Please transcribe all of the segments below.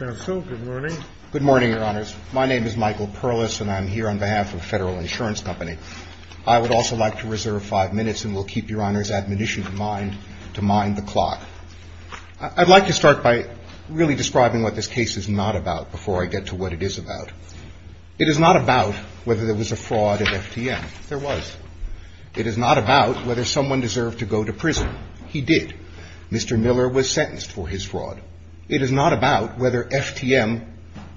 Good morning, your honors. My name is Michael Perlis, and I'm here on behalf of Federal Insurance Company. I would also like to reserve five minutes, and we'll keep your honors' admonition to mind the clock. I'd like to start by really describing what this case is not about before I get to what it is about. It is not about whether there was a fraud at FTM. There was. It is not about whether someone deserved to go to prison. He did. Mr. Miller was sentenced for his fraud. It is not about whether FTM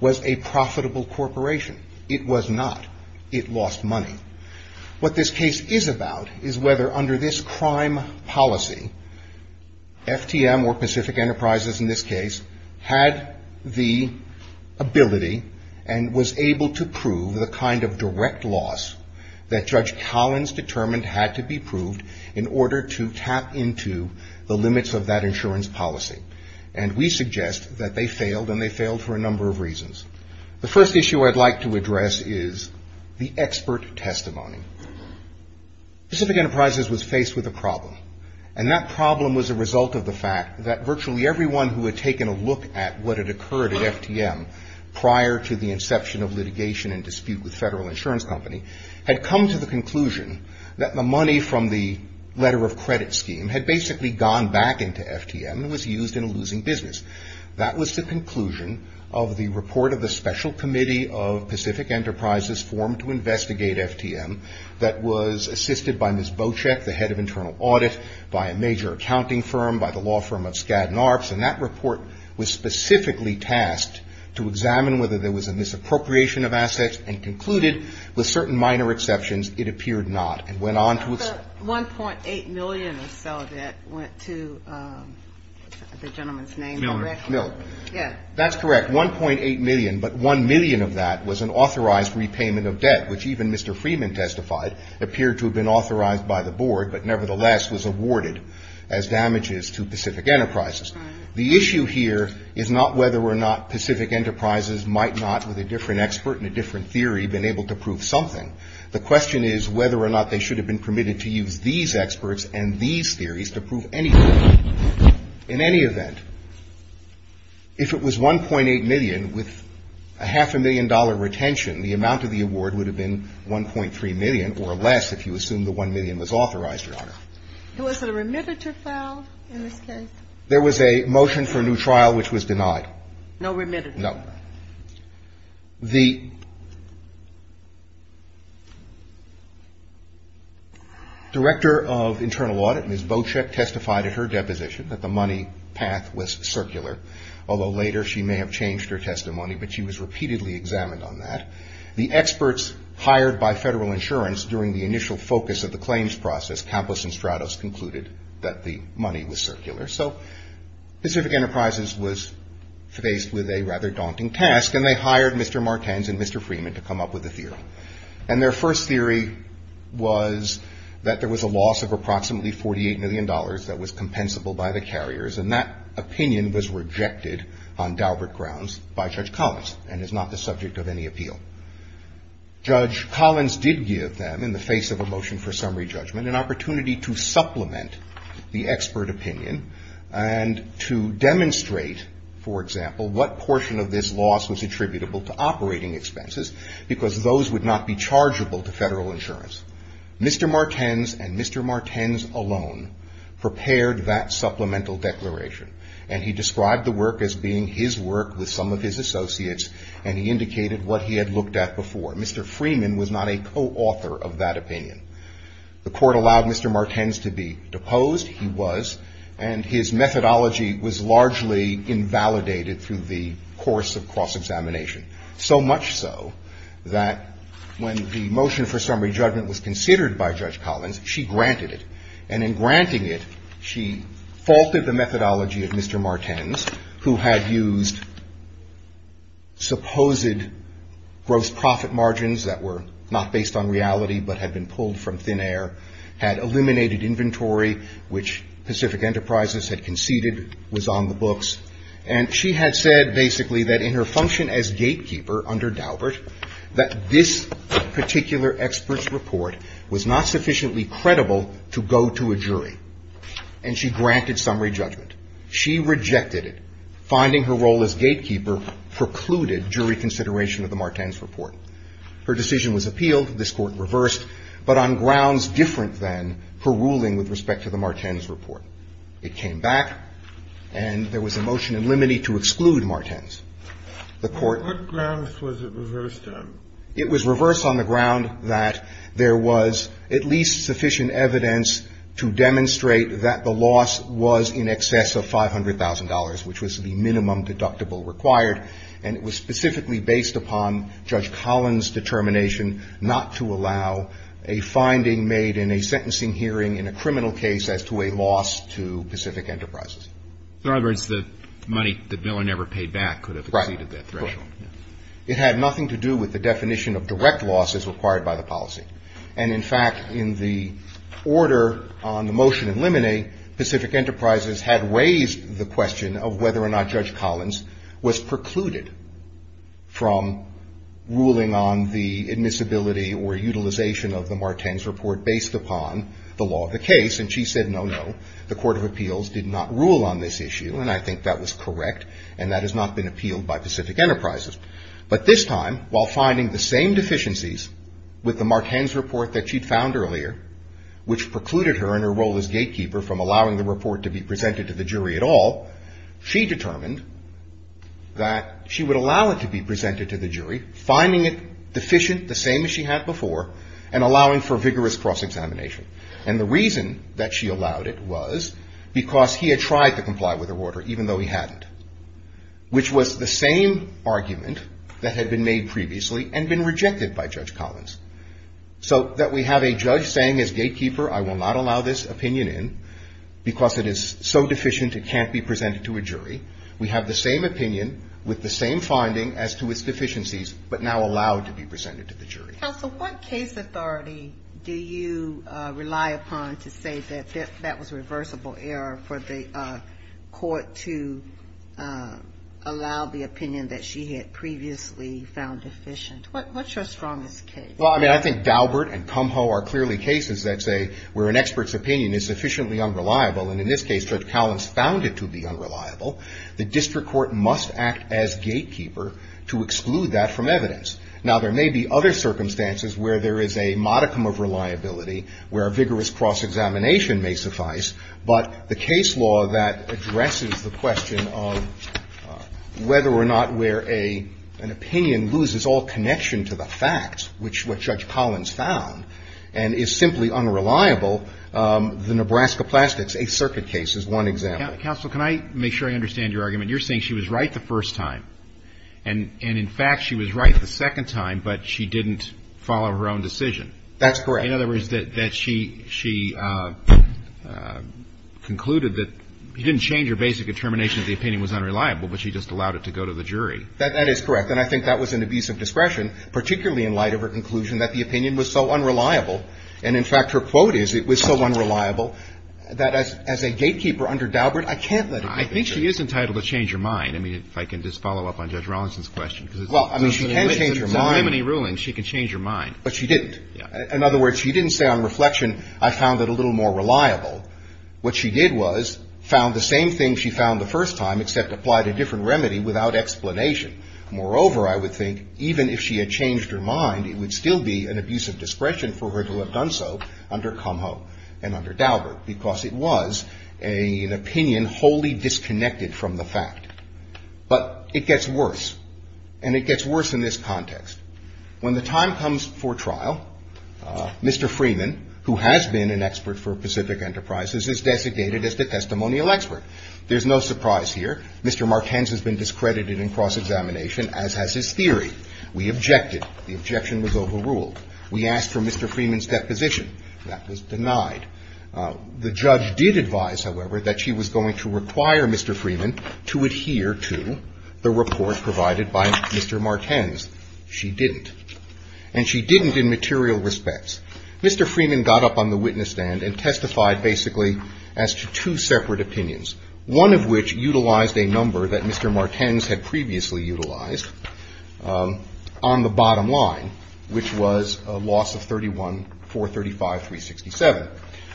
was a profitable corporation. It was not. It lost money. What this case is about is whether under this crime policy, FTM, or Pacific Enterprises in this case, had the ability and was able to prove the kind of direct loss that Judge Collins determined had to be proved in order to tap into the limits of that insurance policy. And we suggest that they failed, and they failed for a number of reasons. The first issue I'd like to address is the expert testimony. Pacific Enterprises was faced with a problem, and that problem was a result of the fact that virtually everyone who had taken a look at what had occurred at FTM prior to the inception of litigation and dispute with Federal Insurance Company had come to the conclusion that the credit scheme had basically gone back into FTM and was used in a losing business. That was the conclusion of the report of the Special Committee of Pacific Enterprises formed to investigate FTM that was assisted by Ms. Bocek, the head of internal audit, by a major accounting firm, by the law firm of Skadden Arps. And that report was specifically tasked to examine whether there was a misappropriation of assets and concluded, with certain minor exceptions, it appeared not, and went on to its – But 1.8 million or so of that went to the gentleman's name, I reckon. Miller. Miller. Yeah. That's correct, 1.8 million, but one million of that was an authorized repayment of debt, which even Mr. Freeman testified appeared to have been authorized by the board, but nevertheless was awarded as damages to Pacific Enterprises. The issue here is not whether or not Pacific Enterprises might not, with a different expert and a different theory, been able to prove something. The question is whether or not they should have been permitted to use these experts and these theories to prove anything. In any event, if it was 1.8 million with a half a million dollar retention, the amount of the award would have been 1.3 million or less if you assume the 1 million was authorized, Your Honor. Was there a remittiture filed in this case? There was a motion for a new trial which was denied. No remittance? No. All right. The Director of Internal Audit, Ms. Bocek, testified at her deposition that the money path was circular, although later she may have changed her testimony, but she was repeatedly examined on that. The experts hired by Federal Insurance during the initial focus of the claims process, Campos and Stratos, concluded that the money was circular. So Pacific Enterprises was faced with a rather daunting task, and they hired Mr. Martens and Mr. Freeman to come up with a theory. And their first theory was that there was a loss of approximately $48 million that was compensable by the carriers, and that opinion was rejected on Daubert grounds by Judge Collins and is not the subject of any appeal. Judge Collins did give them, in the face of a motion for summary judgment, an opportunity to supplement the expert opinion and to demonstrate, for example, what portion of this loss was attributable to operating expenses, because those would not be chargeable to Federal Insurance. Mr. Martens and Mr. Martens alone prepared that supplemental declaration, and he described the work as being his work with some of his associates, and he indicated what he had looked at before. Mr. Freeman was not a co-author of that opinion. The Court allowed Mr. Martens to be deposed. He was. And his methodology was largely invalidated through the course of cross-examination, so much so that when the motion for summary judgment was considered by Judge Collins, she granted it. And in granting it, she faulted the methodology of Mr. Martens, who had used supposed gross profit margins that were not based on reality but had been pulled from thin air, had eliminated inventory, which Pacific Enterprises had conceded was on the books. And she had said, basically, that in her function as gatekeeper under Daubert, that this particular expert's report was not sufficiently credible to go to a jury, and she granted summary judgment. She rejected it. Finding her role as gatekeeper precluded jury consideration of the Martens report. Her decision was appealed. This Court reversed, but on grounds different than her ruling with respect to the Martens report. It came back, and there was a motion in limine to exclude Martens. The Court… What grounds was it reversed on? It was reversed on the ground that there was at least sufficient evidence to demonstrate that the loss was in excess of $500,000, which was the minimum deductible required. And it was specifically based upon Judge Collins' determination not to allow a finding made in a sentencing hearing in a criminal case as to a loss to Pacific Enterprises. In other words, the money the villain ever paid back could have exceeded that threshold. Right. It had nothing to do with the definition of direct loss as required by the policy. And in fact, in the order on the motion in limine, Pacific Enterprises had raised the question of whether or not Judge Collins was precluded from ruling on the admissibility or utilization of the Martens report based upon the law of the case, and she said no, no. The Court of Appeals did not rule on this issue, and I think that was correct, and that has not been appealed by Pacific Enterprises. But this time, while finding the same deficiencies with the Martens report that she'd found earlier, which precluded her in her role as gatekeeper from allowing the report to be presented to the jury at all, she determined that she would allow it to be presented to the jury, finding it deficient the same as she had before, and allowing for vigorous cross-examination. And the reason that she allowed it was because he had tried to comply with her order, even though he hadn't, which was the same argument that had been made previously and been rejected by Judge Collins, so that we have a judge saying as gatekeeper, I will not allow this opinion in because it is so deficient it can't be presented to a jury. We have the same opinion with the same finding as to its deficiencies, but now allowed to be presented to the jury. Counsel, what case authority do you rely upon to say that that was a reversible error for the court to allow the opinion that she had previously found deficient? What's your strongest case? Well, I mean, I think Daubert and Kumho are clearly cases that say where an expert's opinion is sufficiently unreliable, and in this case, Judge Collins found it to be unreliable. The district court must act as gatekeeper to exclude that from evidence. Now, there may be other circumstances where there is a modicum of reliability, where vigorous cross-examination may suffice, but the case law that addresses the question of whether or not where an opinion loses all connection to the facts, which Judge Collins found, and is simply unreliable, the Nebraska Plastics Eighth Circuit case is one example. Counsel, can I make sure I understand your argument? You're saying she was right the first time, and in fact, she was right the second time, but she didn't follow her own decision. That's correct. In other words, that she concluded that she didn't change her basic determination that the opinion was unreliable, but she just allowed it to go to the jury. That is correct, and I think that was an abuse of discretion, particularly in light of her conclusion that the opinion was so unreliable, and in fact, her quote is, it was so unreliable that as a gatekeeper under Daubert, I can't let it go to the jury. I think she is entitled to change her mind. I mean, if I can just follow up on Judge Rollinson's question. Well, I mean, she can change her mind. If there are so many rulings, she can change her mind. But she didn't. In other words, she didn't say on reflection, I found it a little more reliable. What she did was found the same thing she found the first time, except applied a different remedy without explanation. Moreover, I would think, even if she had changed her mind, it would still be an abuse of discretion for her to have done so under Cumho and under Daubert, because it was an opinion wholly disconnected from the fact. But it gets worse, and it gets worse in this context. When the time comes for trial, Mr. Freeman, who has been an expert for Pacific Enterprises, is designated as the testimonial expert. There's no surprise here. Mr. Martens has been discredited in cross-examination, as has his theory. We objected. The objection was overruled. We asked for Mr. Freeman's deposition. That was denied. The judge did advise, however, that she was going to require Mr. Freeman to adhere to the report provided by Mr. Martens. She didn't. And she didn't in material respects. Mr. Freeman got up on the witness stand and testified basically as to two separate opinions, one of which utilized a number that Mr. Martens had previously utilized on the bottom line, which was a loss of 31-435-367.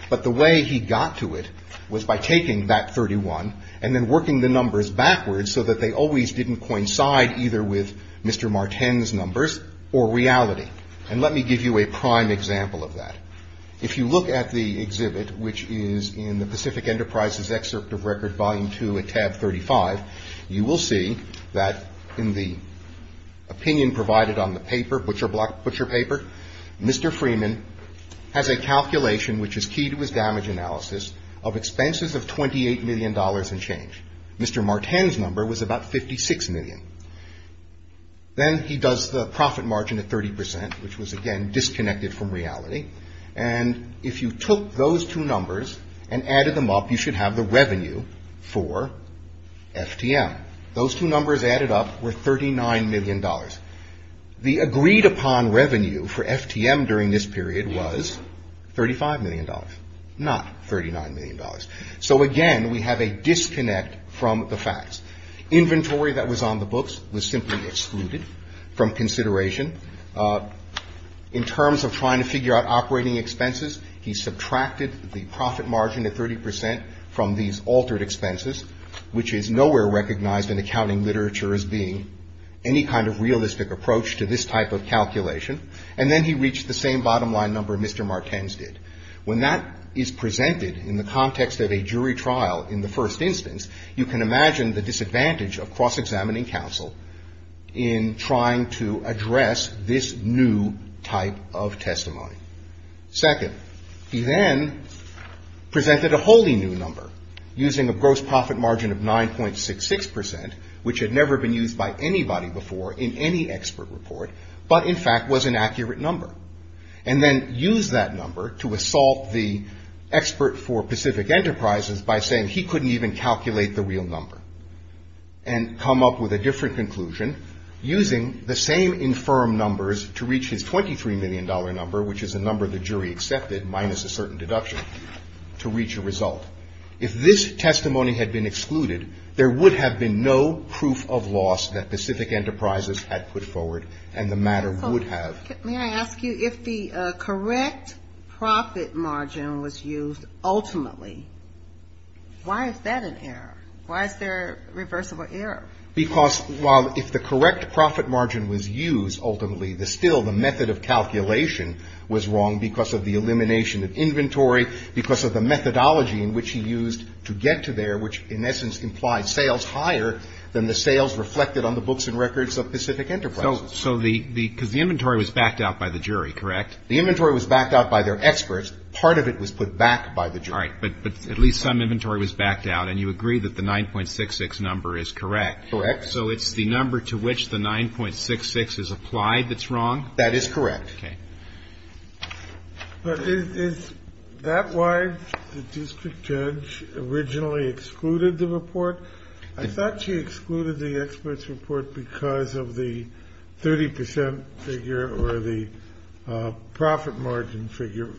But the way he got to it was by taking that 31 and then working the numbers backwards so that they always didn't coincide either with Mr. Martens' numbers or reality. And let me give you a prime example of that. If you look at the exhibit, which is in the Pacific Enterprises excerpt of Record Volume 2 at tab 35, you will see that in the opinion provided on the paper, butcher paper, Mr. Freeman has a calculation, which is keyed with damage analysis, of expenses of $28 million and change. Mr. Martens' number was about 56 million. Then he does the profit margin at 30 percent, which was, again, disconnected from reality. And if you took those two numbers and added them up, you should have the revenue for FTM. Those two numbers added up were $39 million. The agreed upon revenue for FTM during this period was $35 million, not $39 million. So, again, we have a disconnect from the facts. Inventory that was on the books was simply excluded from consideration. In terms of trying to figure out operating expenses, he subtracted the profit margin at 30 percent from these altered expenses, which is nowhere recognized in accounting literature as being any kind of realistic approach to this type of calculation. And then he reached the same bottom line number Mr. Martens did. When that is presented in the context of a jury trial in the first instance, you can imagine the disadvantage of cross-examining counsel in trying to address this new type of testimony. Second, he then presented a wholly new number using a gross profit margin of 9.66 percent, which had never been used by anybody before in any expert report, but in fact was an accurate number. And then used that number to assault the expert for Pacific Enterprises by saying he couldn't even calculate the real number and come up with a different conclusion using the same infirm numbers to reach his $23 million number, which is a number the jury accepted minus a certain deduction, to reach a result. If this testimony had been excluded, there would have been no proof of loss that Pacific Enterprises had put forward and the matter would have. May I ask you, if the correct profit margin was used ultimately, why is that an error? Why is there a reversible error? Because while if the correct profit margin was used ultimately, the still, the method of calculation was wrong because of the elimination of inventory, because of the methodology in which he used to get to there, which in essence implied sales higher than the sales reflected on the books and records of Pacific Enterprises. So the, because the inventory was backed out by the jury, correct? The inventory was backed out by their experts. Part of it was put back by the jury. All right. But at least some inventory was backed out and you agree that the 9.66 number is correct. Correct. So it's the number to which the 9.66 is applied that's wrong? That is correct. Okay. But is that why the district judge originally excluded the report? I thought she excluded the expert's report because of the 30% figure or the profit margin figure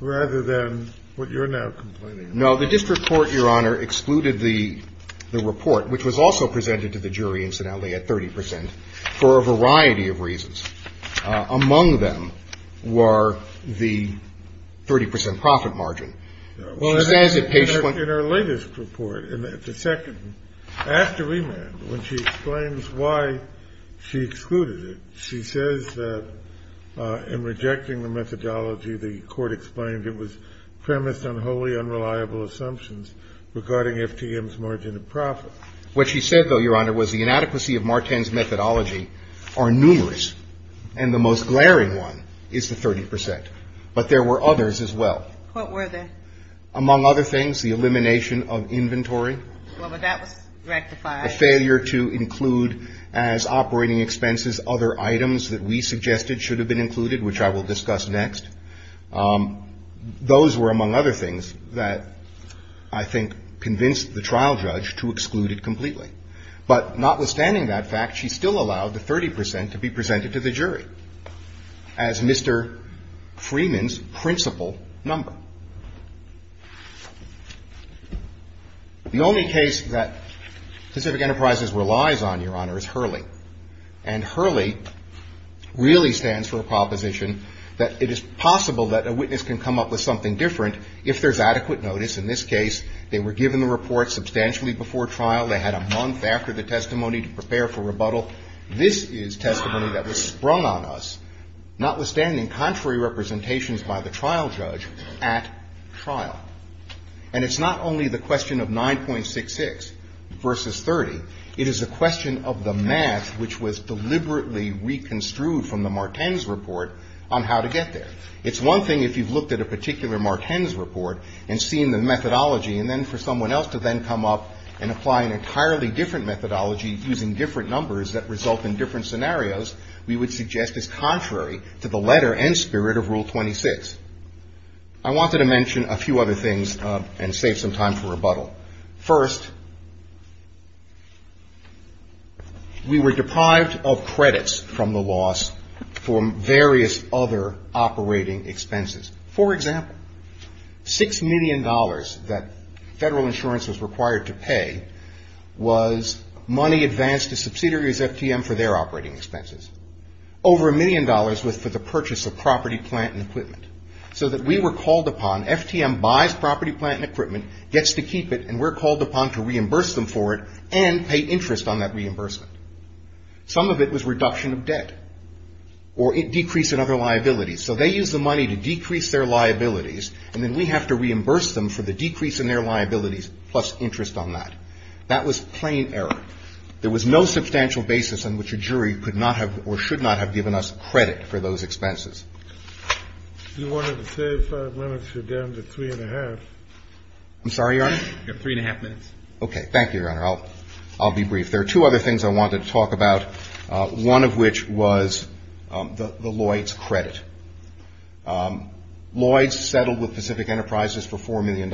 rather than what you're now complaining about. No, the district court, Your Honor, excluded the report, which was also presented to the jury incidentally at 30% for a variety of reasons. Among them were the 30% profit margin. In her latest report, in the second, after remand, when she explains why she excluded it, she says that in rejecting the methodology, the court explained it was premised on wholly unreliable assumptions regarding FTM's margin of profit. What she said, though, Your Honor, was the inadequacy of Marten's methodology are numerous. And the most glaring one is the 30%, but there were others as well. What were they? Among other things, the elimination of inventory. Well, but that was rectified. A failure to include as operating expenses other items that we suggested should have been included, which I will discuss next. Those were among other things that I think convinced the trial judge to exclude it completely. But notwithstanding that fact, she still allowed the 30% to be presented to the jury as Mr. Freeman's principal number. The only case that Pacific Enterprises relies on, Your Honor, is Hurley. And Hurley really stands for a proposition that it is possible that a witness can come up with something different if there's adequate notice. In this case, they were given the report substantially before trial. They had a month after the testimony to prepare for rebuttal. This is testimony that was sprung on us, notwithstanding contrary representations by the trial judge at trial. And it's not only the question of 9.66 versus 30. It is a question of the math which was deliberately reconstrued from the Marten's report on how to get there. It's one thing if you've looked at a particular Marten's report and seen the methodology, and then for someone else to then come up and apply an entirely different methodology using different numbers that result in different scenarios, we would suggest it's contrary to the letter and spirit of Rule 26. I wanted to mention a few other things and save some time for rebuttal. First, we were deprived of credits from the loss for various other operating expenses. For example, $6 million that federal insurance was required to pay was money advanced to subsidiaries FTM for their operating expenses. Over a million dollars was for the purchase of property, plant, and equipment. So that we were called upon, FTM buys property, plant, and equipment, gets to keep it, and we're called upon to reimburse them for it and pay interest on that reimbursement. Some of it was reduction of debt or a decrease in other liabilities. So they use the money to decrease their liabilities, and then we have to reimburse them for the decrease in their liabilities plus interest on that. That was plain error. There was no substantial basis on which a jury could not have or should not have given us credit for those expenses. You wanted to save five minutes. You're down to three and a half. I'm sorry, Your Honor? You have three and a half minutes. Okay. Thank you, Your Honor. I'll be brief. There are two other things I wanted to talk about, one of which was the Lloyds credit. Lloyds settled with Pacific Enterprises for $4 million.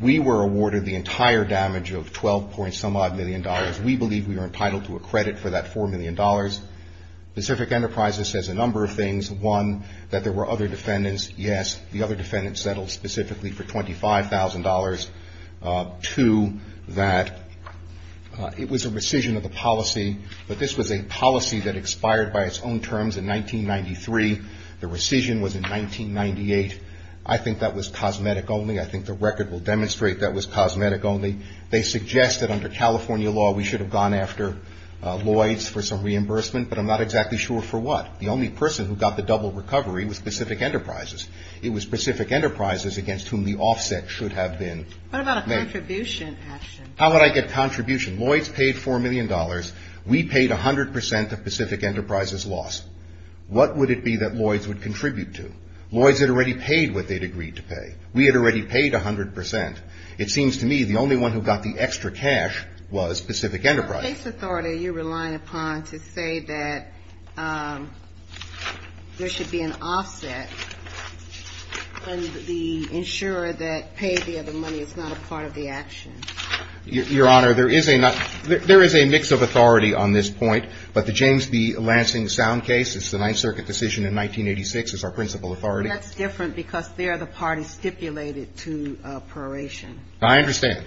We were awarded the entire damage of 12 points, some odd million dollars. We believe we were entitled to a credit for that $4 million. Pacific Enterprises says a number of things. One, that there were other defendants. Yes, the other defendants settled specifically for $25,000. Two, that it was a rescission of the policy, but this was a policy that expired by its own terms in 1993. The rescission was in 1998. I think that was cosmetic only. I think the record will demonstrate that was cosmetic only. They suggested under California law we should have gone after Lloyds for some reimbursement, but I'm not exactly sure for what. The only person who got the double recovery was Pacific Enterprises. It was Pacific Enterprises against whom the offset should have been. What about a contribution action? How would I get a contribution? Lloyds paid $4 million. We paid 100% of Pacific Enterprises' loss. What would it be that Lloyds would contribute to? Lloyds had already paid what they'd agreed to pay. We had already paid 100%. It seems to me the only one who got the extra cash was Pacific Enterprises. What case authority are you relying upon to say that there should be an offset and the insurer that paid the other money is not a part of the action? Your Honor, there is a mix of authority on this point, but the James B. Lansing sound case, it's the Ninth Circuit decision in 1986, is our principal authority. That's different because there the parties stipulated to proration. I understand.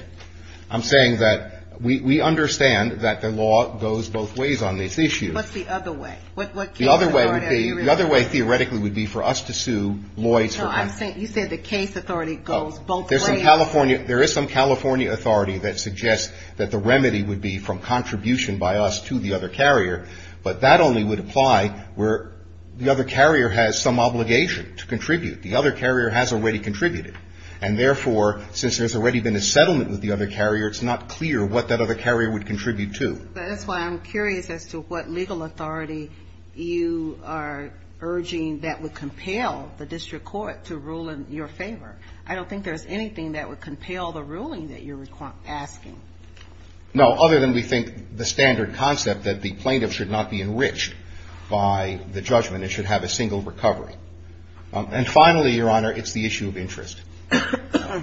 I'm saying that we understand that the law goes both ways on this issue. What's the other way? The other way theoretically would be for us to sue Lloyds. No, you said the case authority goes both ways. There is some California authority that suggests that the remedy would be from contribution by us to the other carrier, but that only would apply where the other carrier has some obligation to contribute. The other carrier has already contributed. And therefore, since there's already been a settlement with the other carrier, it's not clear what that other carrier would contribute to. That's why I'm curious as to what legal authority you are urging that would compel the district court to rule in your favor. I don't think there's anything that would compel the ruling that you're asking. No, other than we think the standard concept that the plaintiff should not be enriched by the judgment, it should have a single recovery. And finally, Your Honor, it's the issue of interest.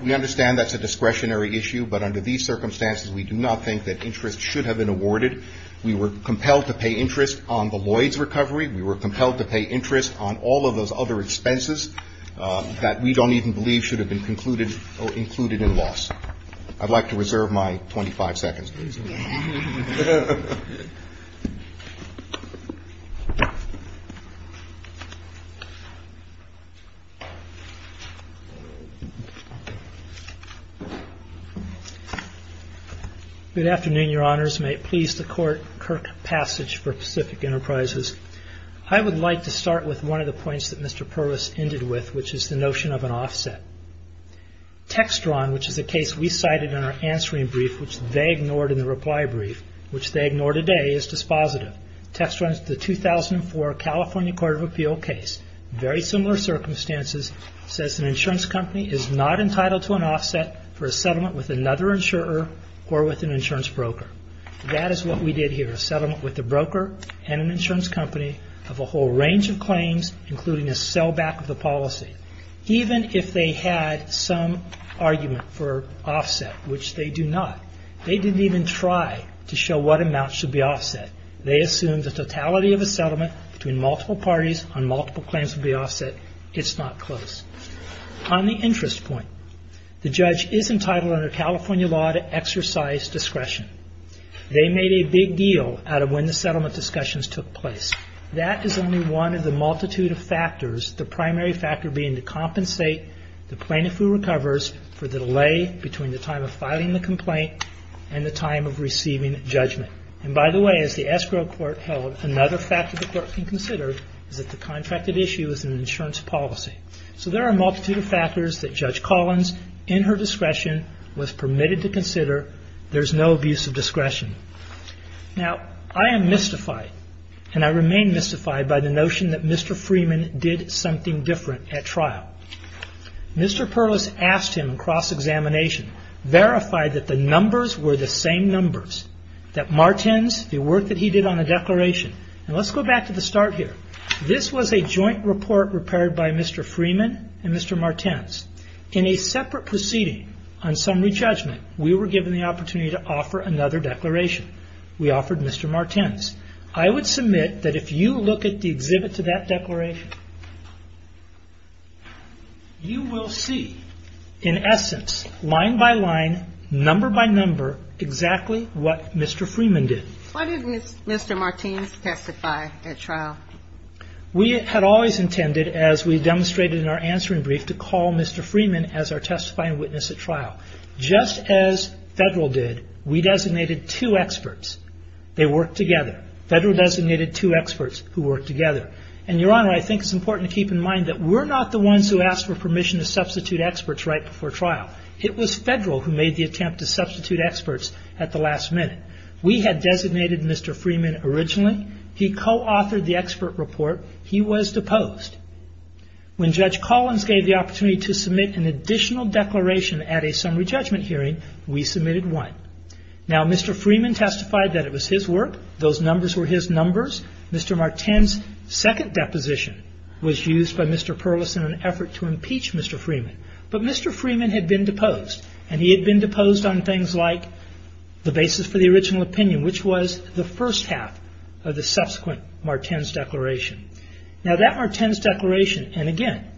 We understand that's a discretionary issue, but under these circumstances, we do not think that interest should have been awarded. We were compelled to pay interest on the Lloyds recovery. We were compelled to pay interest on all of those other expenses that we don't even believe should have been concluded or included in loss. I'd like to reserve my 25 seconds, please. Good afternoon, Your Honors. May it please the court, Kirk Passage for Pacific Enterprises. I would like to start with one of the points that Mr. Purvis ended with, which is the notion of an offset. Textron, which is a case we cited in our answering brief, which they ignored in the reply brief, which they ignore today, is dispositive. Textron's the 2004 California Court of Appeal case, very similar circumstances, says an insurance company is not entitled to an offset for a settlement with another insurer or with an insurance broker. That is what we did here. A settlement with a broker and an insurance company of a whole range of claims, including a sellback of the policy. Even if they had some argument for offset, which they do not, they didn't even try to show what amount should be offset. They assumed the totality of a settlement between multiple parties on multiple claims would be offset. It's not close. On the interest point, the judge is entitled under California law to exercise discretion. They made a big deal out of when the settlement discussions took place. That is only one of the multitude of factors, the primary factor being to compensate the plaintiff who recovers for the delay between the time of filing the complaint and the time of receiving judgment. And by the way, as the escrow court held, another factor the court can consider is that the contracted issue is an insurance policy. So there are a multitude of factors that Judge Collins, in her discretion, was permitted to consider. There's no abuse of discretion. Now, I am mystified, and I remain mystified by the notion that Mr. Freeman did something different at trial. Mr. Perlis asked him in cross-examination, verified that the numbers were the same numbers, that Martens, the work that he did on the declaration, and let's go back to the start here. This was a joint report prepared by Mr. Freeman and Mr. Martens. In a separate proceeding on summary judgment, we were given the opportunity to offer another declaration. We offered Mr. Martens. I would submit that if you look at the exhibit to that declaration, you will see, in essence, line by line, number by number, exactly what Mr. Freeman did. Why didn't Mr. Martens testify at trial? We had always intended, as we demonstrated in our answering brief, to call Mr. Freeman as our testifying witness at trial. Just as Federal did, we designated two experts. They worked together. Federal designated two experts who worked together. And, Your Honor, I think it's important to keep in mind that we're not the ones who asked for permission to substitute experts right before trial. It was Federal who made the attempt to substitute experts at the last minute. We had designated Mr. Freeman originally. He co-authored the expert report. He was deposed. When Judge Collins gave the opportunity to submit an additional declaration at a summary judgment hearing, we submitted one. Now, Mr. Freeman testified that it was his work. Those numbers were his numbers. Mr. Martens' second deposition was used by Mr. Perlis in an effort to impeach Mr. Freeman. But Mr. Freeman had been deposed. And he had been deposed on things like the basis for the original opinion, which was the first half of the subsequent Martens' declaration. Now, that Martens' declaration, and again,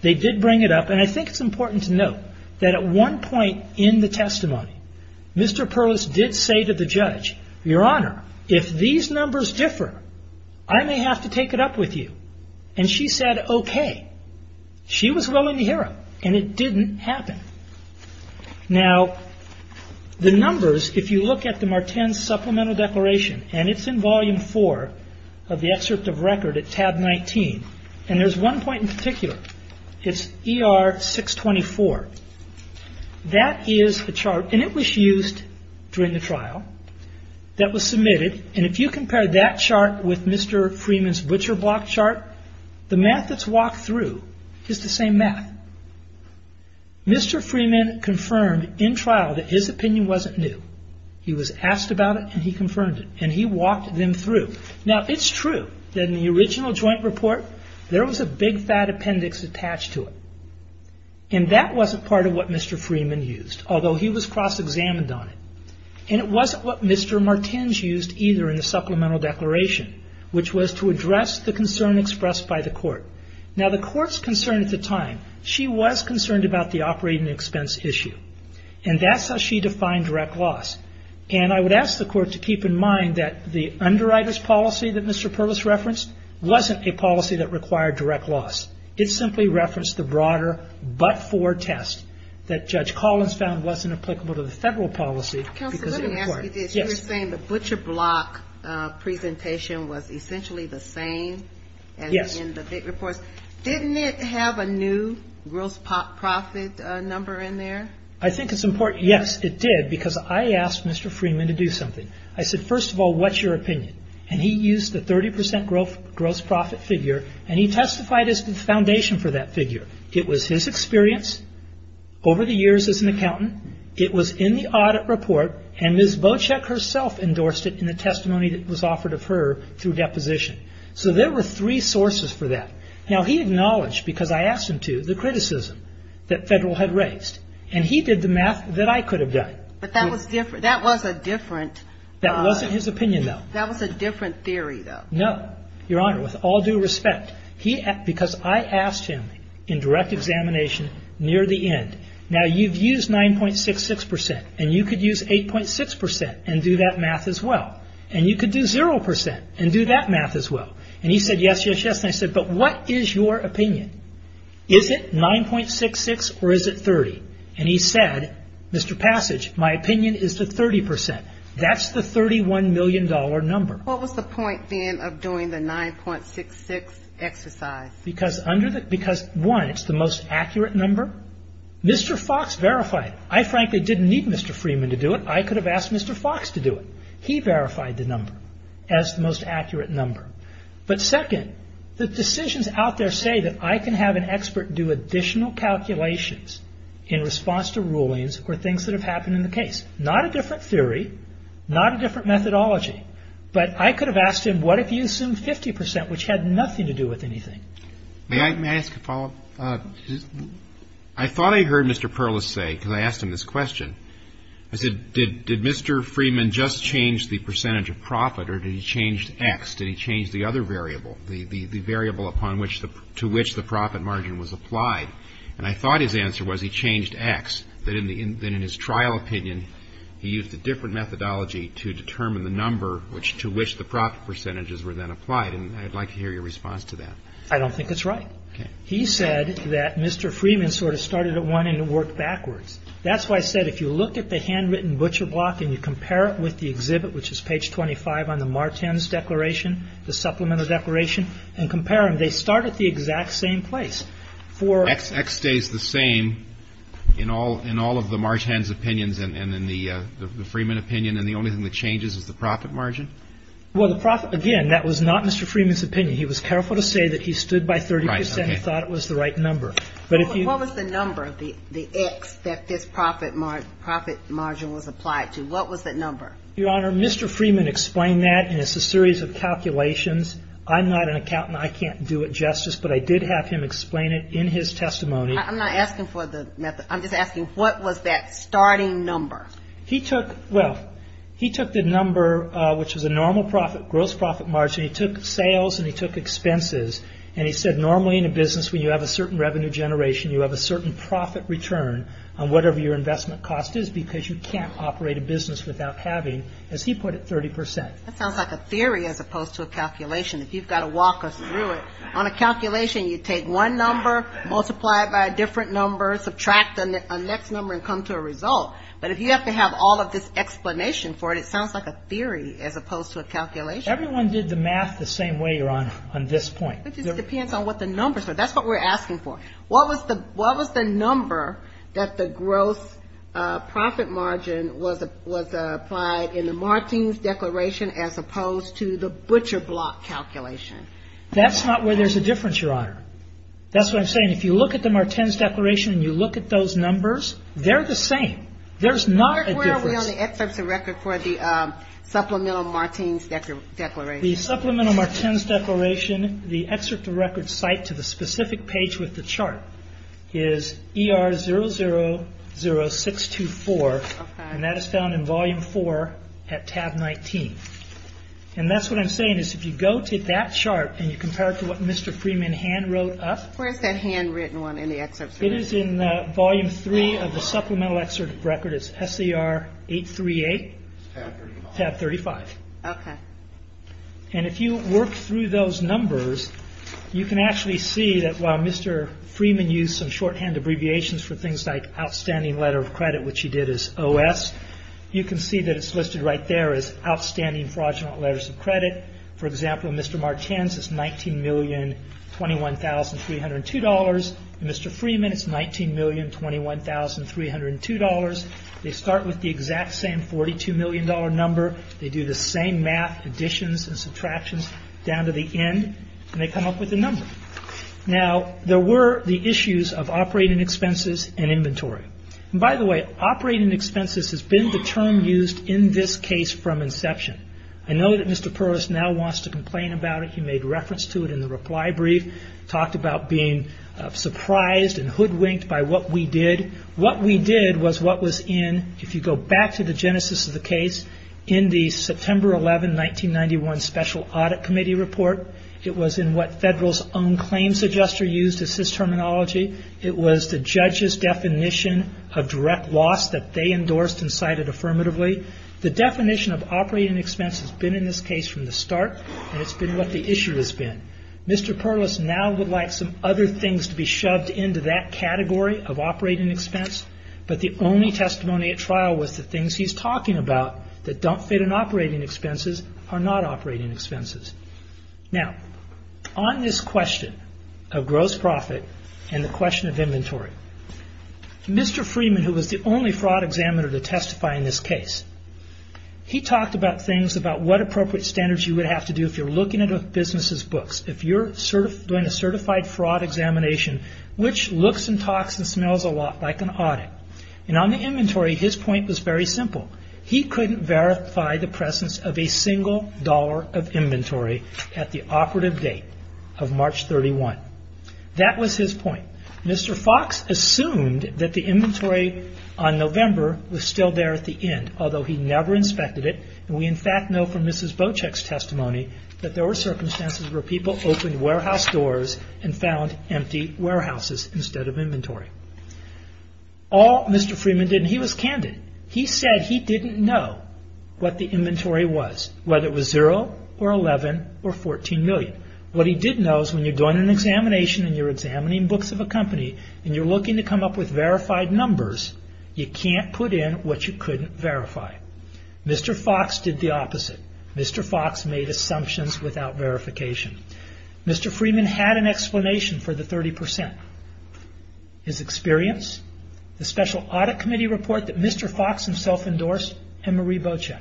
they did bring it up. And I think it's important to note that at one point in the testimony, Mr. Perlis did say to the judge, Your Honor, if these numbers differ, I may have to take it up with you. And she said, okay. She was willing to hear it. And it didn't happen. Now, the numbers, if you look at the Martens' supplemental declaration, and it's in volume four of the excerpt of record at tab 19. And there's one point in particular. It's ER 624. That is the chart, and it was used during the trial, that was submitted. And if you compare that chart with Mr. Freeman's butcher block chart, the math that's walked through is the same math. Mr. Freeman confirmed in trial that his opinion wasn't new. He was asked about it, and he confirmed it. And he walked them through. Now, it's true that in the original joint report, there was a big fat appendix attached to it. And that wasn't part of what Mr. Freeman used, although he was cross-examined on it. And it wasn't what Mr. Martens used either in the supplemental declaration, which was to address the concern expressed by the court. Now, the court's concern at the time, she was concerned about the operating expense issue. And that's how she defined direct loss. And I would ask the court to keep in mind that the underwriter's policy that Mr. Purvis referenced wasn't a policy that required direct loss. It simply referenced the broader but-for test that Judge Collins found wasn't applicable to the federal policy because of the report. Yes. You were saying the butcher block presentation was essentially the same as in the big reports. Didn't it have a new gross profit number in there? I think it's important. Yes, it did, because I asked Mr. Freeman to do something. I said, first of all, what's your opinion? And he used the 30% gross profit figure, and he testified as the foundation for that figure. It was his experience over the years as an accountant. It was in the audit report, and Ms. Bocek herself endorsed it in the testimony that was offered of her through deposition. So there were three sources for that. Now, he acknowledged, because I asked him to, the criticism that federal had raised. And he did the math that I could have done. But that was a different. That wasn't his opinion, though. That was a different theory, though. No, Your Honor, with all due respect, because I asked him in direct examination near the end, now you've used 9.66%, and you could use 8.6% and do that math as well. And you could do 0% and do that math as well. And he said, yes, yes, yes. And I said, but what is your opinion? Is it 9.66% or is it 30%? And he said, Mr. Passage, my opinion is the 30%. That's the $31 million number. What was the point, then, of doing the 9.66% exercise? Because, one, it's the most accurate number. Mr. Fox verified it. I frankly didn't need Mr. Freeman to do it. I could have asked Mr. Fox to do it. He verified the number as the most accurate number. But second, the decisions out there say that I can have an expert do additional calculations in response to rulings or things that have happened in the case. Not a different theory, not a different methodology, but I could have asked him, what if you assumed 50%, which had nothing to do with anything? May I ask a follow-up? I thought I heard Mr. Perlis say, because I asked him this question, I said, did Mr. Freeman just change the percentage of profit or did he change X? Did he change the other variable, the variable to which the profit margin was applied? And I thought his answer was he changed X, that in his trial opinion, he used a different methodology to determine the number to which the profit percentages were then applied. And I'd like to hear your response to that. I don't think it's right. He said that Mr. Freeman sort of started at one and worked backwards. That's why I said, if you look at the handwritten butcher block and you compare it with the exhibit, which is page 25 on the Martens Declaration, the Supplemental Declaration, and compare them, they start at the exact same place. For X stays the same in all of the Martens opinions and in the Freeman opinion. And the only thing that changes is the profit margin. Well, the profit, again, that was not Mr. Freeman's opinion. He was careful to say that he stood by 30% and thought it was the right number. But if you. What was the number of the X that this profit margin was applied to? What was that number? Your Honor, Mr. Freeman explained that and it's a series of calculations. I'm not an accountant. I can't do it justice, but I did have him explain it in his testimony. I'm not asking for the method. I'm just asking what was that starting number? He took, well, he took the number, which was a normal profit, gross profit margin. He took sales and he took expenses. And he said, normally in a business, when you have a certain revenue generation, you have a certain profit return on whatever your business without having, as he put it, 30%. That sounds like a theory as opposed to a calculation. If you've got to walk us through it on a calculation, you take one number, multiply it by a different number, subtract a next number and come to a result. But if you have to have all of this explanation for it, it sounds like a theory as opposed to a calculation. Everyone did the math the same way, Your Honor, on this point. It just depends on what the numbers are. That's what we're asking for. What was the number that the gross profit margin was applied in the Martins Declaration as opposed to the Butcher Block calculation? That's not where there's a difference, Your Honor. That's what I'm saying. If you look at the Martins Declaration and you look at those numbers, they're the same. There's not a difference. Where are we on the excerpt of record for the Supplemental Martins Declaration? The Supplemental Martins Declaration, the excerpt of record cited to the specific page with the chart, is ER 000624, and that is found in Volume 4 at Tab 19. And that's what I'm saying, is if you go to that chart and you compare it to what Mr. Freeman hand wrote up. Where's that handwritten one in the excerpt? It is in Volume 3 of the Supplemental Excerpt of Record. It's SER 838, Tab 35. Okay. And if you work through those numbers, you can actually see that while Mr. Freeman used some shorthand abbreviations for things like Outstanding Letter of Credit, which he did as OS, you can see that it's listed right there as Outstanding Fraudulent Letters of Credit. For example, Mr. Martins is $19,021,302. Mr. Freeman is $19,021,302. They start with the exact same $42 million number. They do the same math additions and subtractions down to the end, and they come up with the number. Now, there were the issues of operating expenses and inventory. And by the way, operating expenses has been the term used in this case from inception. I know that Mr. Perlis now wants to complain about it. He made reference to it in the reply brief, talked about being surprised and hoodwinked by what we did. What we did was what was in, if you go back to the genesis of the case, in the September 11, 1991 Special Audit Committee report, it was in what Federal's own claims adjuster used as his terminology. It was the judge's definition of direct loss that they endorsed and cited affirmatively. The definition of operating expense has been in this case from the start, and it's been what the issue has been. Mr. Perlis now would like some other things to be shoved into that category of operating expense, but the only testimony at trial was the things he's talking about that don't fit in operating expenses are not operating expenses. Now, on this question of gross profit and the question of inventory, Mr. Freeman, who was the only fraud examiner to testify in this case, he talked about things about what appropriate standards you would have to do if you're looking at a business's books. If you're doing a certified fraud examination, which looks and talks and smells a lot like an audit. And on the inventory, his point was very simple. He couldn't verify the presence of a single dollar of inventory at the operative date of March 31. That was his point. Mr. Fox assumed that the inventory on November was still there at the end, although he never inspected it. We, in fact, know from Mrs. Bocek's testimony that there were circumstances where people opened warehouse doors and found empty warehouses instead of inventory. All Mr. Freeman did, and he was candid, he said he didn't know what the inventory was, whether it was zero or 11 or 14 million. What he did know is when you're doing an examination and you're examining books of a company and you're looking to come up with verified numbers, you can't put in what you couldn't verify. Mr. Fox did the opposite. Mr. Fox made assumptions without verification. Mr. Freeman had an explanation for the 30 percent. His experience, the special audit committee report that Mr. Fox himself endorsed, and Marie Bocek.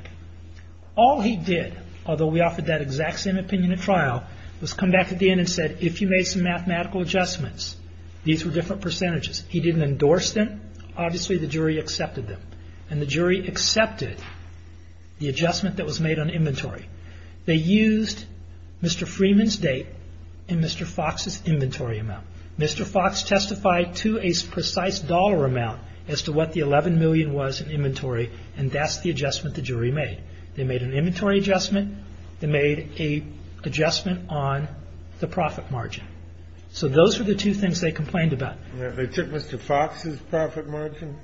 All he did, although we offered that exact same opinion at trial, was come back at the end and said, if you made some mathematical adjustments, these were different percentages. He didn't endorse them. Obviously, the jury accepted them. And the jury accepted the adjustment that was made on inventory. They used Mr. Freeman's date and Mr. Fox's inventory amount. Mr. Fox testified to a precise dollar amount as to what the 11 million was in inventory. And that's the adjustment the jury made. They made an inventory adjustment. They made a adjustment on the profit margin. So those are the two things they complained about. They took Mr. Fox's profit margin?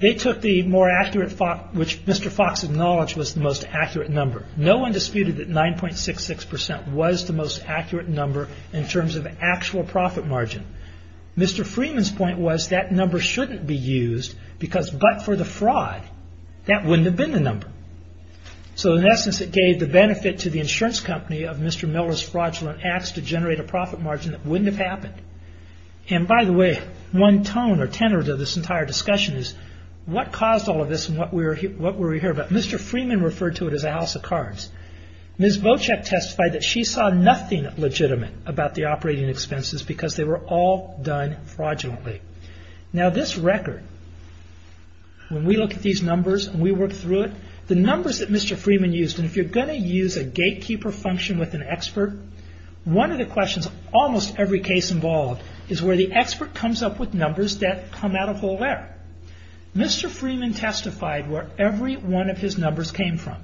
They took the more accurate, which Mr. Fox acknowledged was the most accurate number. No one disputed that 9.66 percent was the most accurate number in terms of actual profit margin. Mr. Freeman's point was that number shouldn't be used because but for the fraud, that wouldn't have been the number. So in essence, it gave the benefit to the insurance company of Mr. Miller's fraudulent acts to generate a profit margin that wouldn't have happened. And by the way, one tone or tenor to this entire discussion is what caused all of this and what we're what we're here about. Mr. Freeman referred to it as a house of cards. Ms. Bocek testified that she saw nothing legitimate about the operating expenses because they were all done fraudulently. Now, this record, when we look at these numbers and we work through it, the numbers that Mr. Freeman used, and if you're going to use a gatekeeper function with an expert. One of the questions, almost every case involved, is where the expert comes up with numbers that come out of nowhere. Mr. Freeman testified where every one of his numbers came from.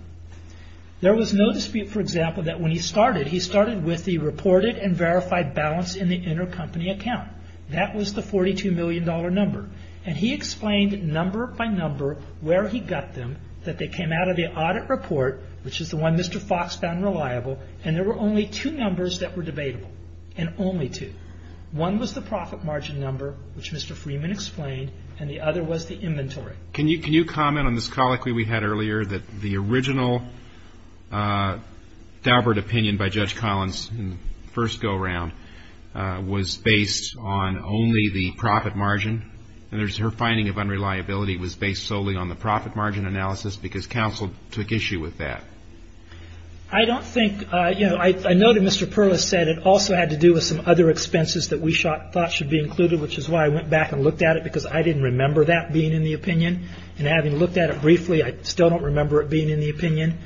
There was no dispute, for example, that when he started, he started with the reported and verified balance in the intercompany account. That was the $42 million number. And he explained number by number where he got them, that they came out of the audit report, which is the one Mr. Fox found reliable. And there were only two numbers that were debatable and only two. One was the profit margin number, which Mr. Freeman explained, and the other was the inventory. Can you can you comment on this colloquy we had earlier that the original Daubert opinion by Judge Collins in the first go around was based on only the profit margin? And there's her finding of unreliability was based solely on the profit margin analysis because counsel took issue with that. I don't think I know that Mr. Perlis said it also had to do with some other expenses that we thought should be included, which is why I went back and looked at it, because I didn't remember that being in the opinion. And having looked at it briefly, I still don't remember it being in the opinion.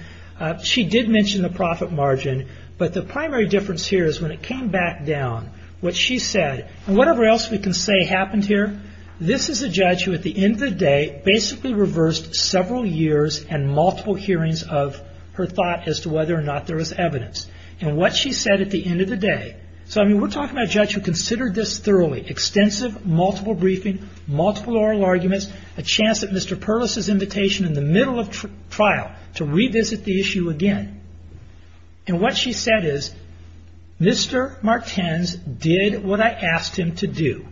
She did mention the profit margin. But the primary difference here is when it came back down, what she said and whatever else we can say happened here. This is a judge who at the end of the day basically reversed several years and multiple hearings of her thought as to whether or not there was evidence and what she said at the end of the day. So, I mean, we're talking about a judge who considered this thoroughly extensive, multiple briefing, multiple oral arguments, a chance that Mr. Perlis's invitation in the middle of trial to revisit the issue again. And what she said is Mr. Martins did what I asked him to do.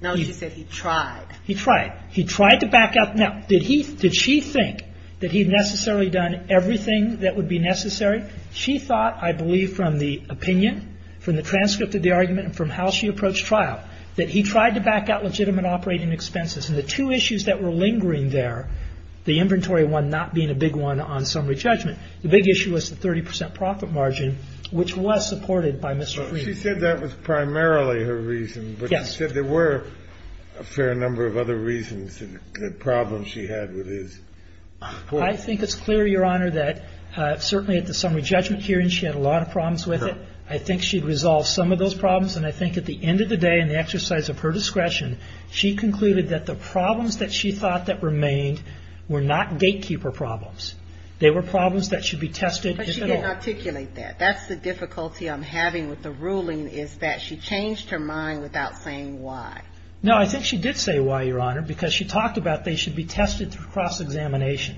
Now, you said he tried. He tried. He tried to back up. Now, did he did she think that he had necessarily done everything that would be necessary? She thought, I believe, from the opinion, from the transcript of the argument and from how she approached trial, that he tried to back out legitimate operating expenses. And the two issues that were lingering there, the inventory one not being a big one on summary judgment. The big issue was the 30 percent profit margin, which was supported by Mr. She said that was primarily her reason, but she said there were a fair number of other reasons and problems she had with his. I think it's clear, Your Honor, that certainly at the summary judgment hearing, she had a lot of problems with it. I think she'd resolve some of those problems. And I think at the end of the day, in the exercise of her discretion, she concluded that the problems that she thought that remained were not gatekeeper problems. They were problems that should be tested. But she didn't articulate that. That's the difficulty I'm having with the ruling, is that she changed her mind without saying why. No, I think she did say why, Your Honor, because she talked about they should be tested through cross-examination.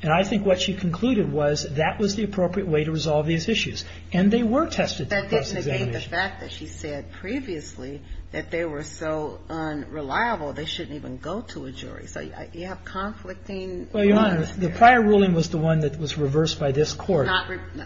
And I think what she concluded was that was the appropriate way to resolve these issues. And they were tested. That didn't negate the fact that she said previously that they were so unreliable, they shouldn't even go to a jury. So you have conflicting. Well, Your Honor, the prior ruling was the one that was reversed by this court.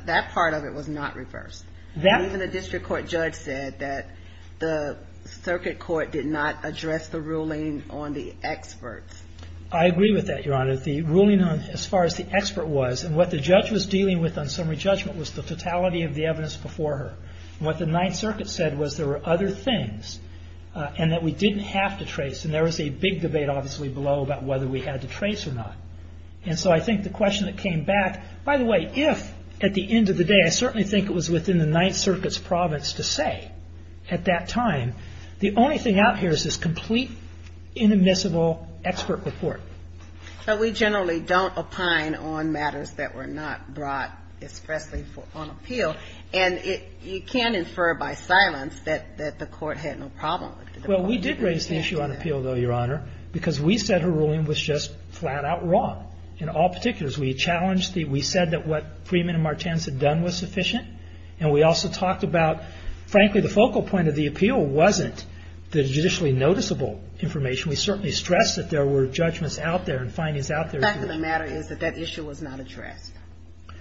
That part of it was not reversed. Even the district court judge said that the circuit court did not address the ruling on the experts. I agree with that, Your Honor. The ruling on as far as the expert was and what the judge was dealing with on summary judgment was the totality of the evidence before her. What the Ninth Circuit said was there were other things and that we didn't have to trace. And there was a big debate, obviously, below about whether we had to trace or not. And so I think the question that came back, by the way, if at the end of the day, I certainly think it was within the Ninth Circuit's province to say at that time, the only thing out here is this complete inadmissible expert report. But we generally don't opine on matters that were not brought, especially on appeal. And you can infer by silence that the court had no problem. Well, we did raise the issue on appeal, though, Your Honor, because we said her ruling was just flat out wrong. In all particulars, we challenged the, we said that what Freeman and Martins had done was sufficient. And we also talked about, frankly, the focal point of the appeal wasn't the judicially noticeable information. We certainly stressed that there were judgments out there and findings out there. The fact of the matter is that that issue was not addressed.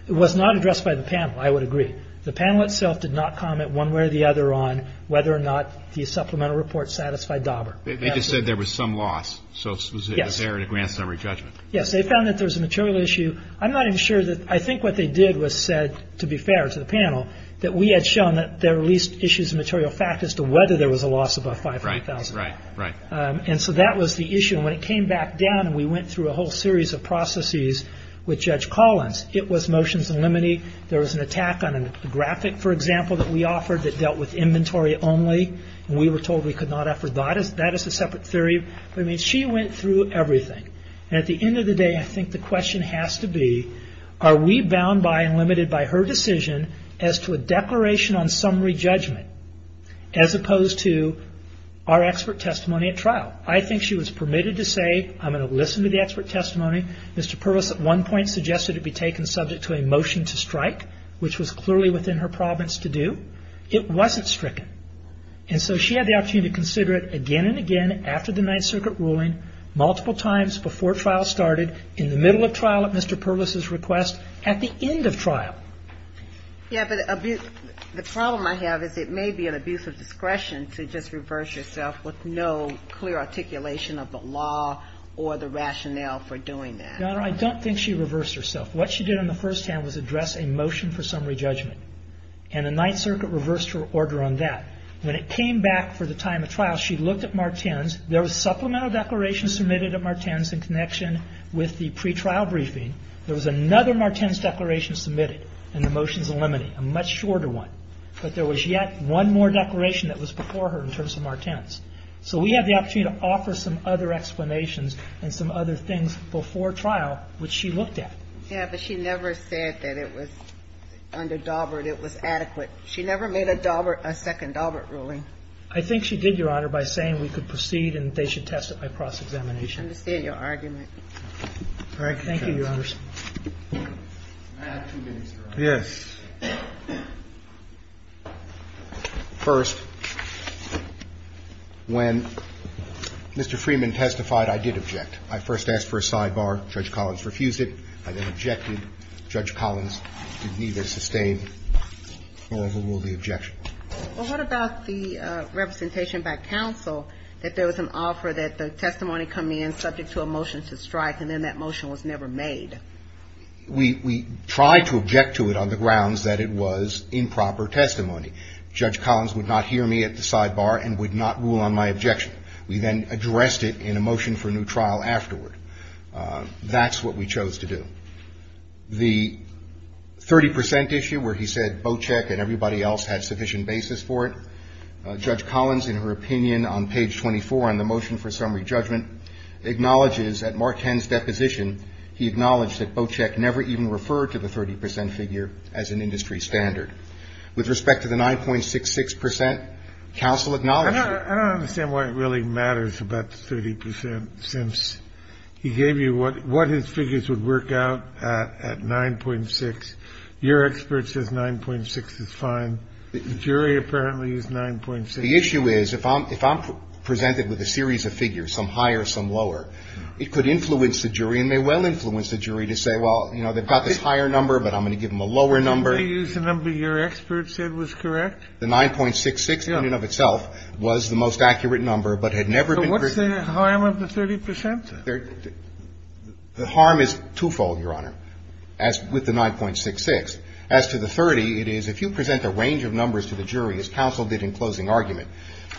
It was not addressed by the panel. I would agree. The panel itself did not comment one way or the other on whether or not the supplemental report satisfied Dauber. They just said there was some loss. So it was there in a grand summary judgment. Yes, they found that there was a material issue. I'm not even sure that, I think what they did was said, to be fair to the panel, that we had shown that there were at least issues of material fact as to whether there was a loss above $500,000. Right, right, right. And so that was the issue. And when it came back down and we went through a whole series of processes with Judge Collins, it was motions and liminee. There was an attack on a graphic, for example, that we offered that dealt with inventory only. We were told we could not afford that. That is a separate theory. I mean, she went through everything. And at the end of the day, I think the question has to be, are we bound by and limited by her decision as to a declaration on summary judgment as opposed to our expert testimony at trial? I think she was permitted to say, I'm going to listen to the expert testimony. Mr. Purvis at one point suggested it be taken subject to a motion to strike, which was clearly within her province to do. It wasn't stricken. And so she had the opportunity to consider it again and again after the Ninth Circuit ruling, multiple times before trial started, in the middle of trial at Mr. Purvis's request, at the end of trial. Yeah, but the problem I have is it may be an abuse of discretion to just reverse yourself with no clear articulation of the law or the rationale for doing that. Your Honor, I don't think she reversed herself. What she did on the first hand was address a motion for summary judgment. And the Ninth Circuit reversed her order on that. When it came back for the time of trial, she looked at Martens. There was supplemental declaration submitted at Martens in connection with the pre-trial briefing. There was another Martens declaration submitted, and the motion's eliminated, a much shorter one. But there was yet one more declaration that was before her in terms of Martens. So we have the opportunity to offer some other explanations and some other things before trial, which she looked at. Yeah, but she never said that it was under Daubert, it was adequate. She never made a Daubert – a second Daubert ruling. I think she did, Your Honor, by saying we could proceed and they should testify cross-examination. I understand your argument. All right. Thank you, Your Honors. I have two minutes, Your Honor. Yes. First, when Mr. Freeman testified, I did object. I first asked for a sidebar. Judge Collins refused it. I then objected. Judge Collins did neither sustain nor overrule the objection. Well, what about the representation by counsel that there was an offer that the testimony coming in subject to a motion to strike, and then that motion was never made? We tried to object to it on the grounds that it was improper testimony. Judge Collins would not hear me at the sidebar and would not rule on my objection. We then addressed it in a motion for new trial afterward. That's what we chose to do. The 30 percent issue where he said Bochek and everybody else had sufficient basis for it, Judge Collins, in her opinion, on page 24 on the motion for summary judgment, acknowledges that Mark Henn's deposition, he acknowledged that Bochek never even referred to the 30 percent figure as an industry standard. With respect to the 9.66 percent, counsel acknowledges that – He gave you what his figures would work out at 9.6. Your expert says 9.6 is fine. The jury apparently used 9.6. The issue is if I'm presented with a series of figures, some higher, some lower, it could influence the jury and may well influence the jury to say, well, you know, they've got this higher number, but I'm going to give them a lower number. They used the number your expert said was correct. The 9.66 in and of itself was the most accurate number, but had never been – So what's the harm of the 30 percent? The harm is twofold, Your Honor, as with the 9.66. As to the 30, it is if you present a range of numbers to the jury, as counsel did in closing argument,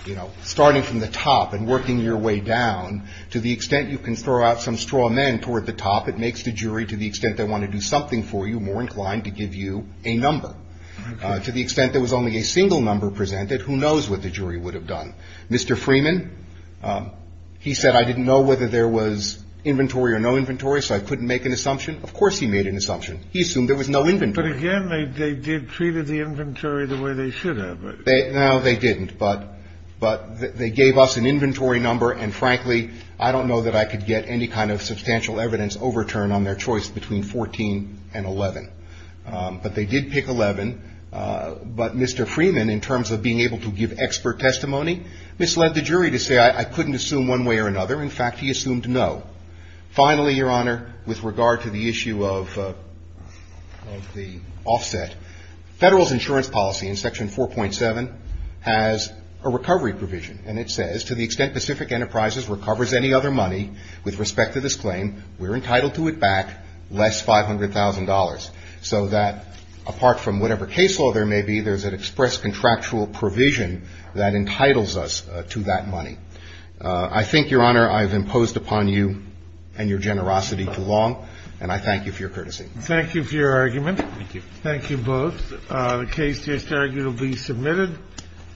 you know, starting from the top and working your way down to the extent you can throw out some straw men toward the top, it makes the jury, to the extent they want to do something for you, more inclined to give you a number. To the extent there was only a single number presented, who knows what the jury would have done. Mr. Freeman, he said, I didn't know whether there was inventory or no inventory, so I couldn't make an assumption. Of course he made an assumption. He assumed there was no inventory. But again, they did treat the inventory the way they should have. No, they didn't. But they gave us an inventory number, and frankly, I don't know that I could get any kind of substantial evidence overturned on their choice between 14 and 11. But they did pick 11. But Mr. Freeman, in terms of being able to give expert testimony, misled the jury to say, I couldn't assume one way or another. In fact, he assumed no. Finally, Your Honor, with regard to the issue of the offset, Federal's insurance policy in Section 4.7 has a recovery provision. And it says, to the extent Pacific Enterprises recovers any other money with respect to this claim, we're entitled to it back less $500,000. So that, apart from whatever case law there may be, there's an express contractual provision that entitles us to that money. I think, Your Honor, I've imposed upon you and your generosity too long, and I thank you for your courtesy. Thank you for your argument. Thank you both. The case is arguably submitted.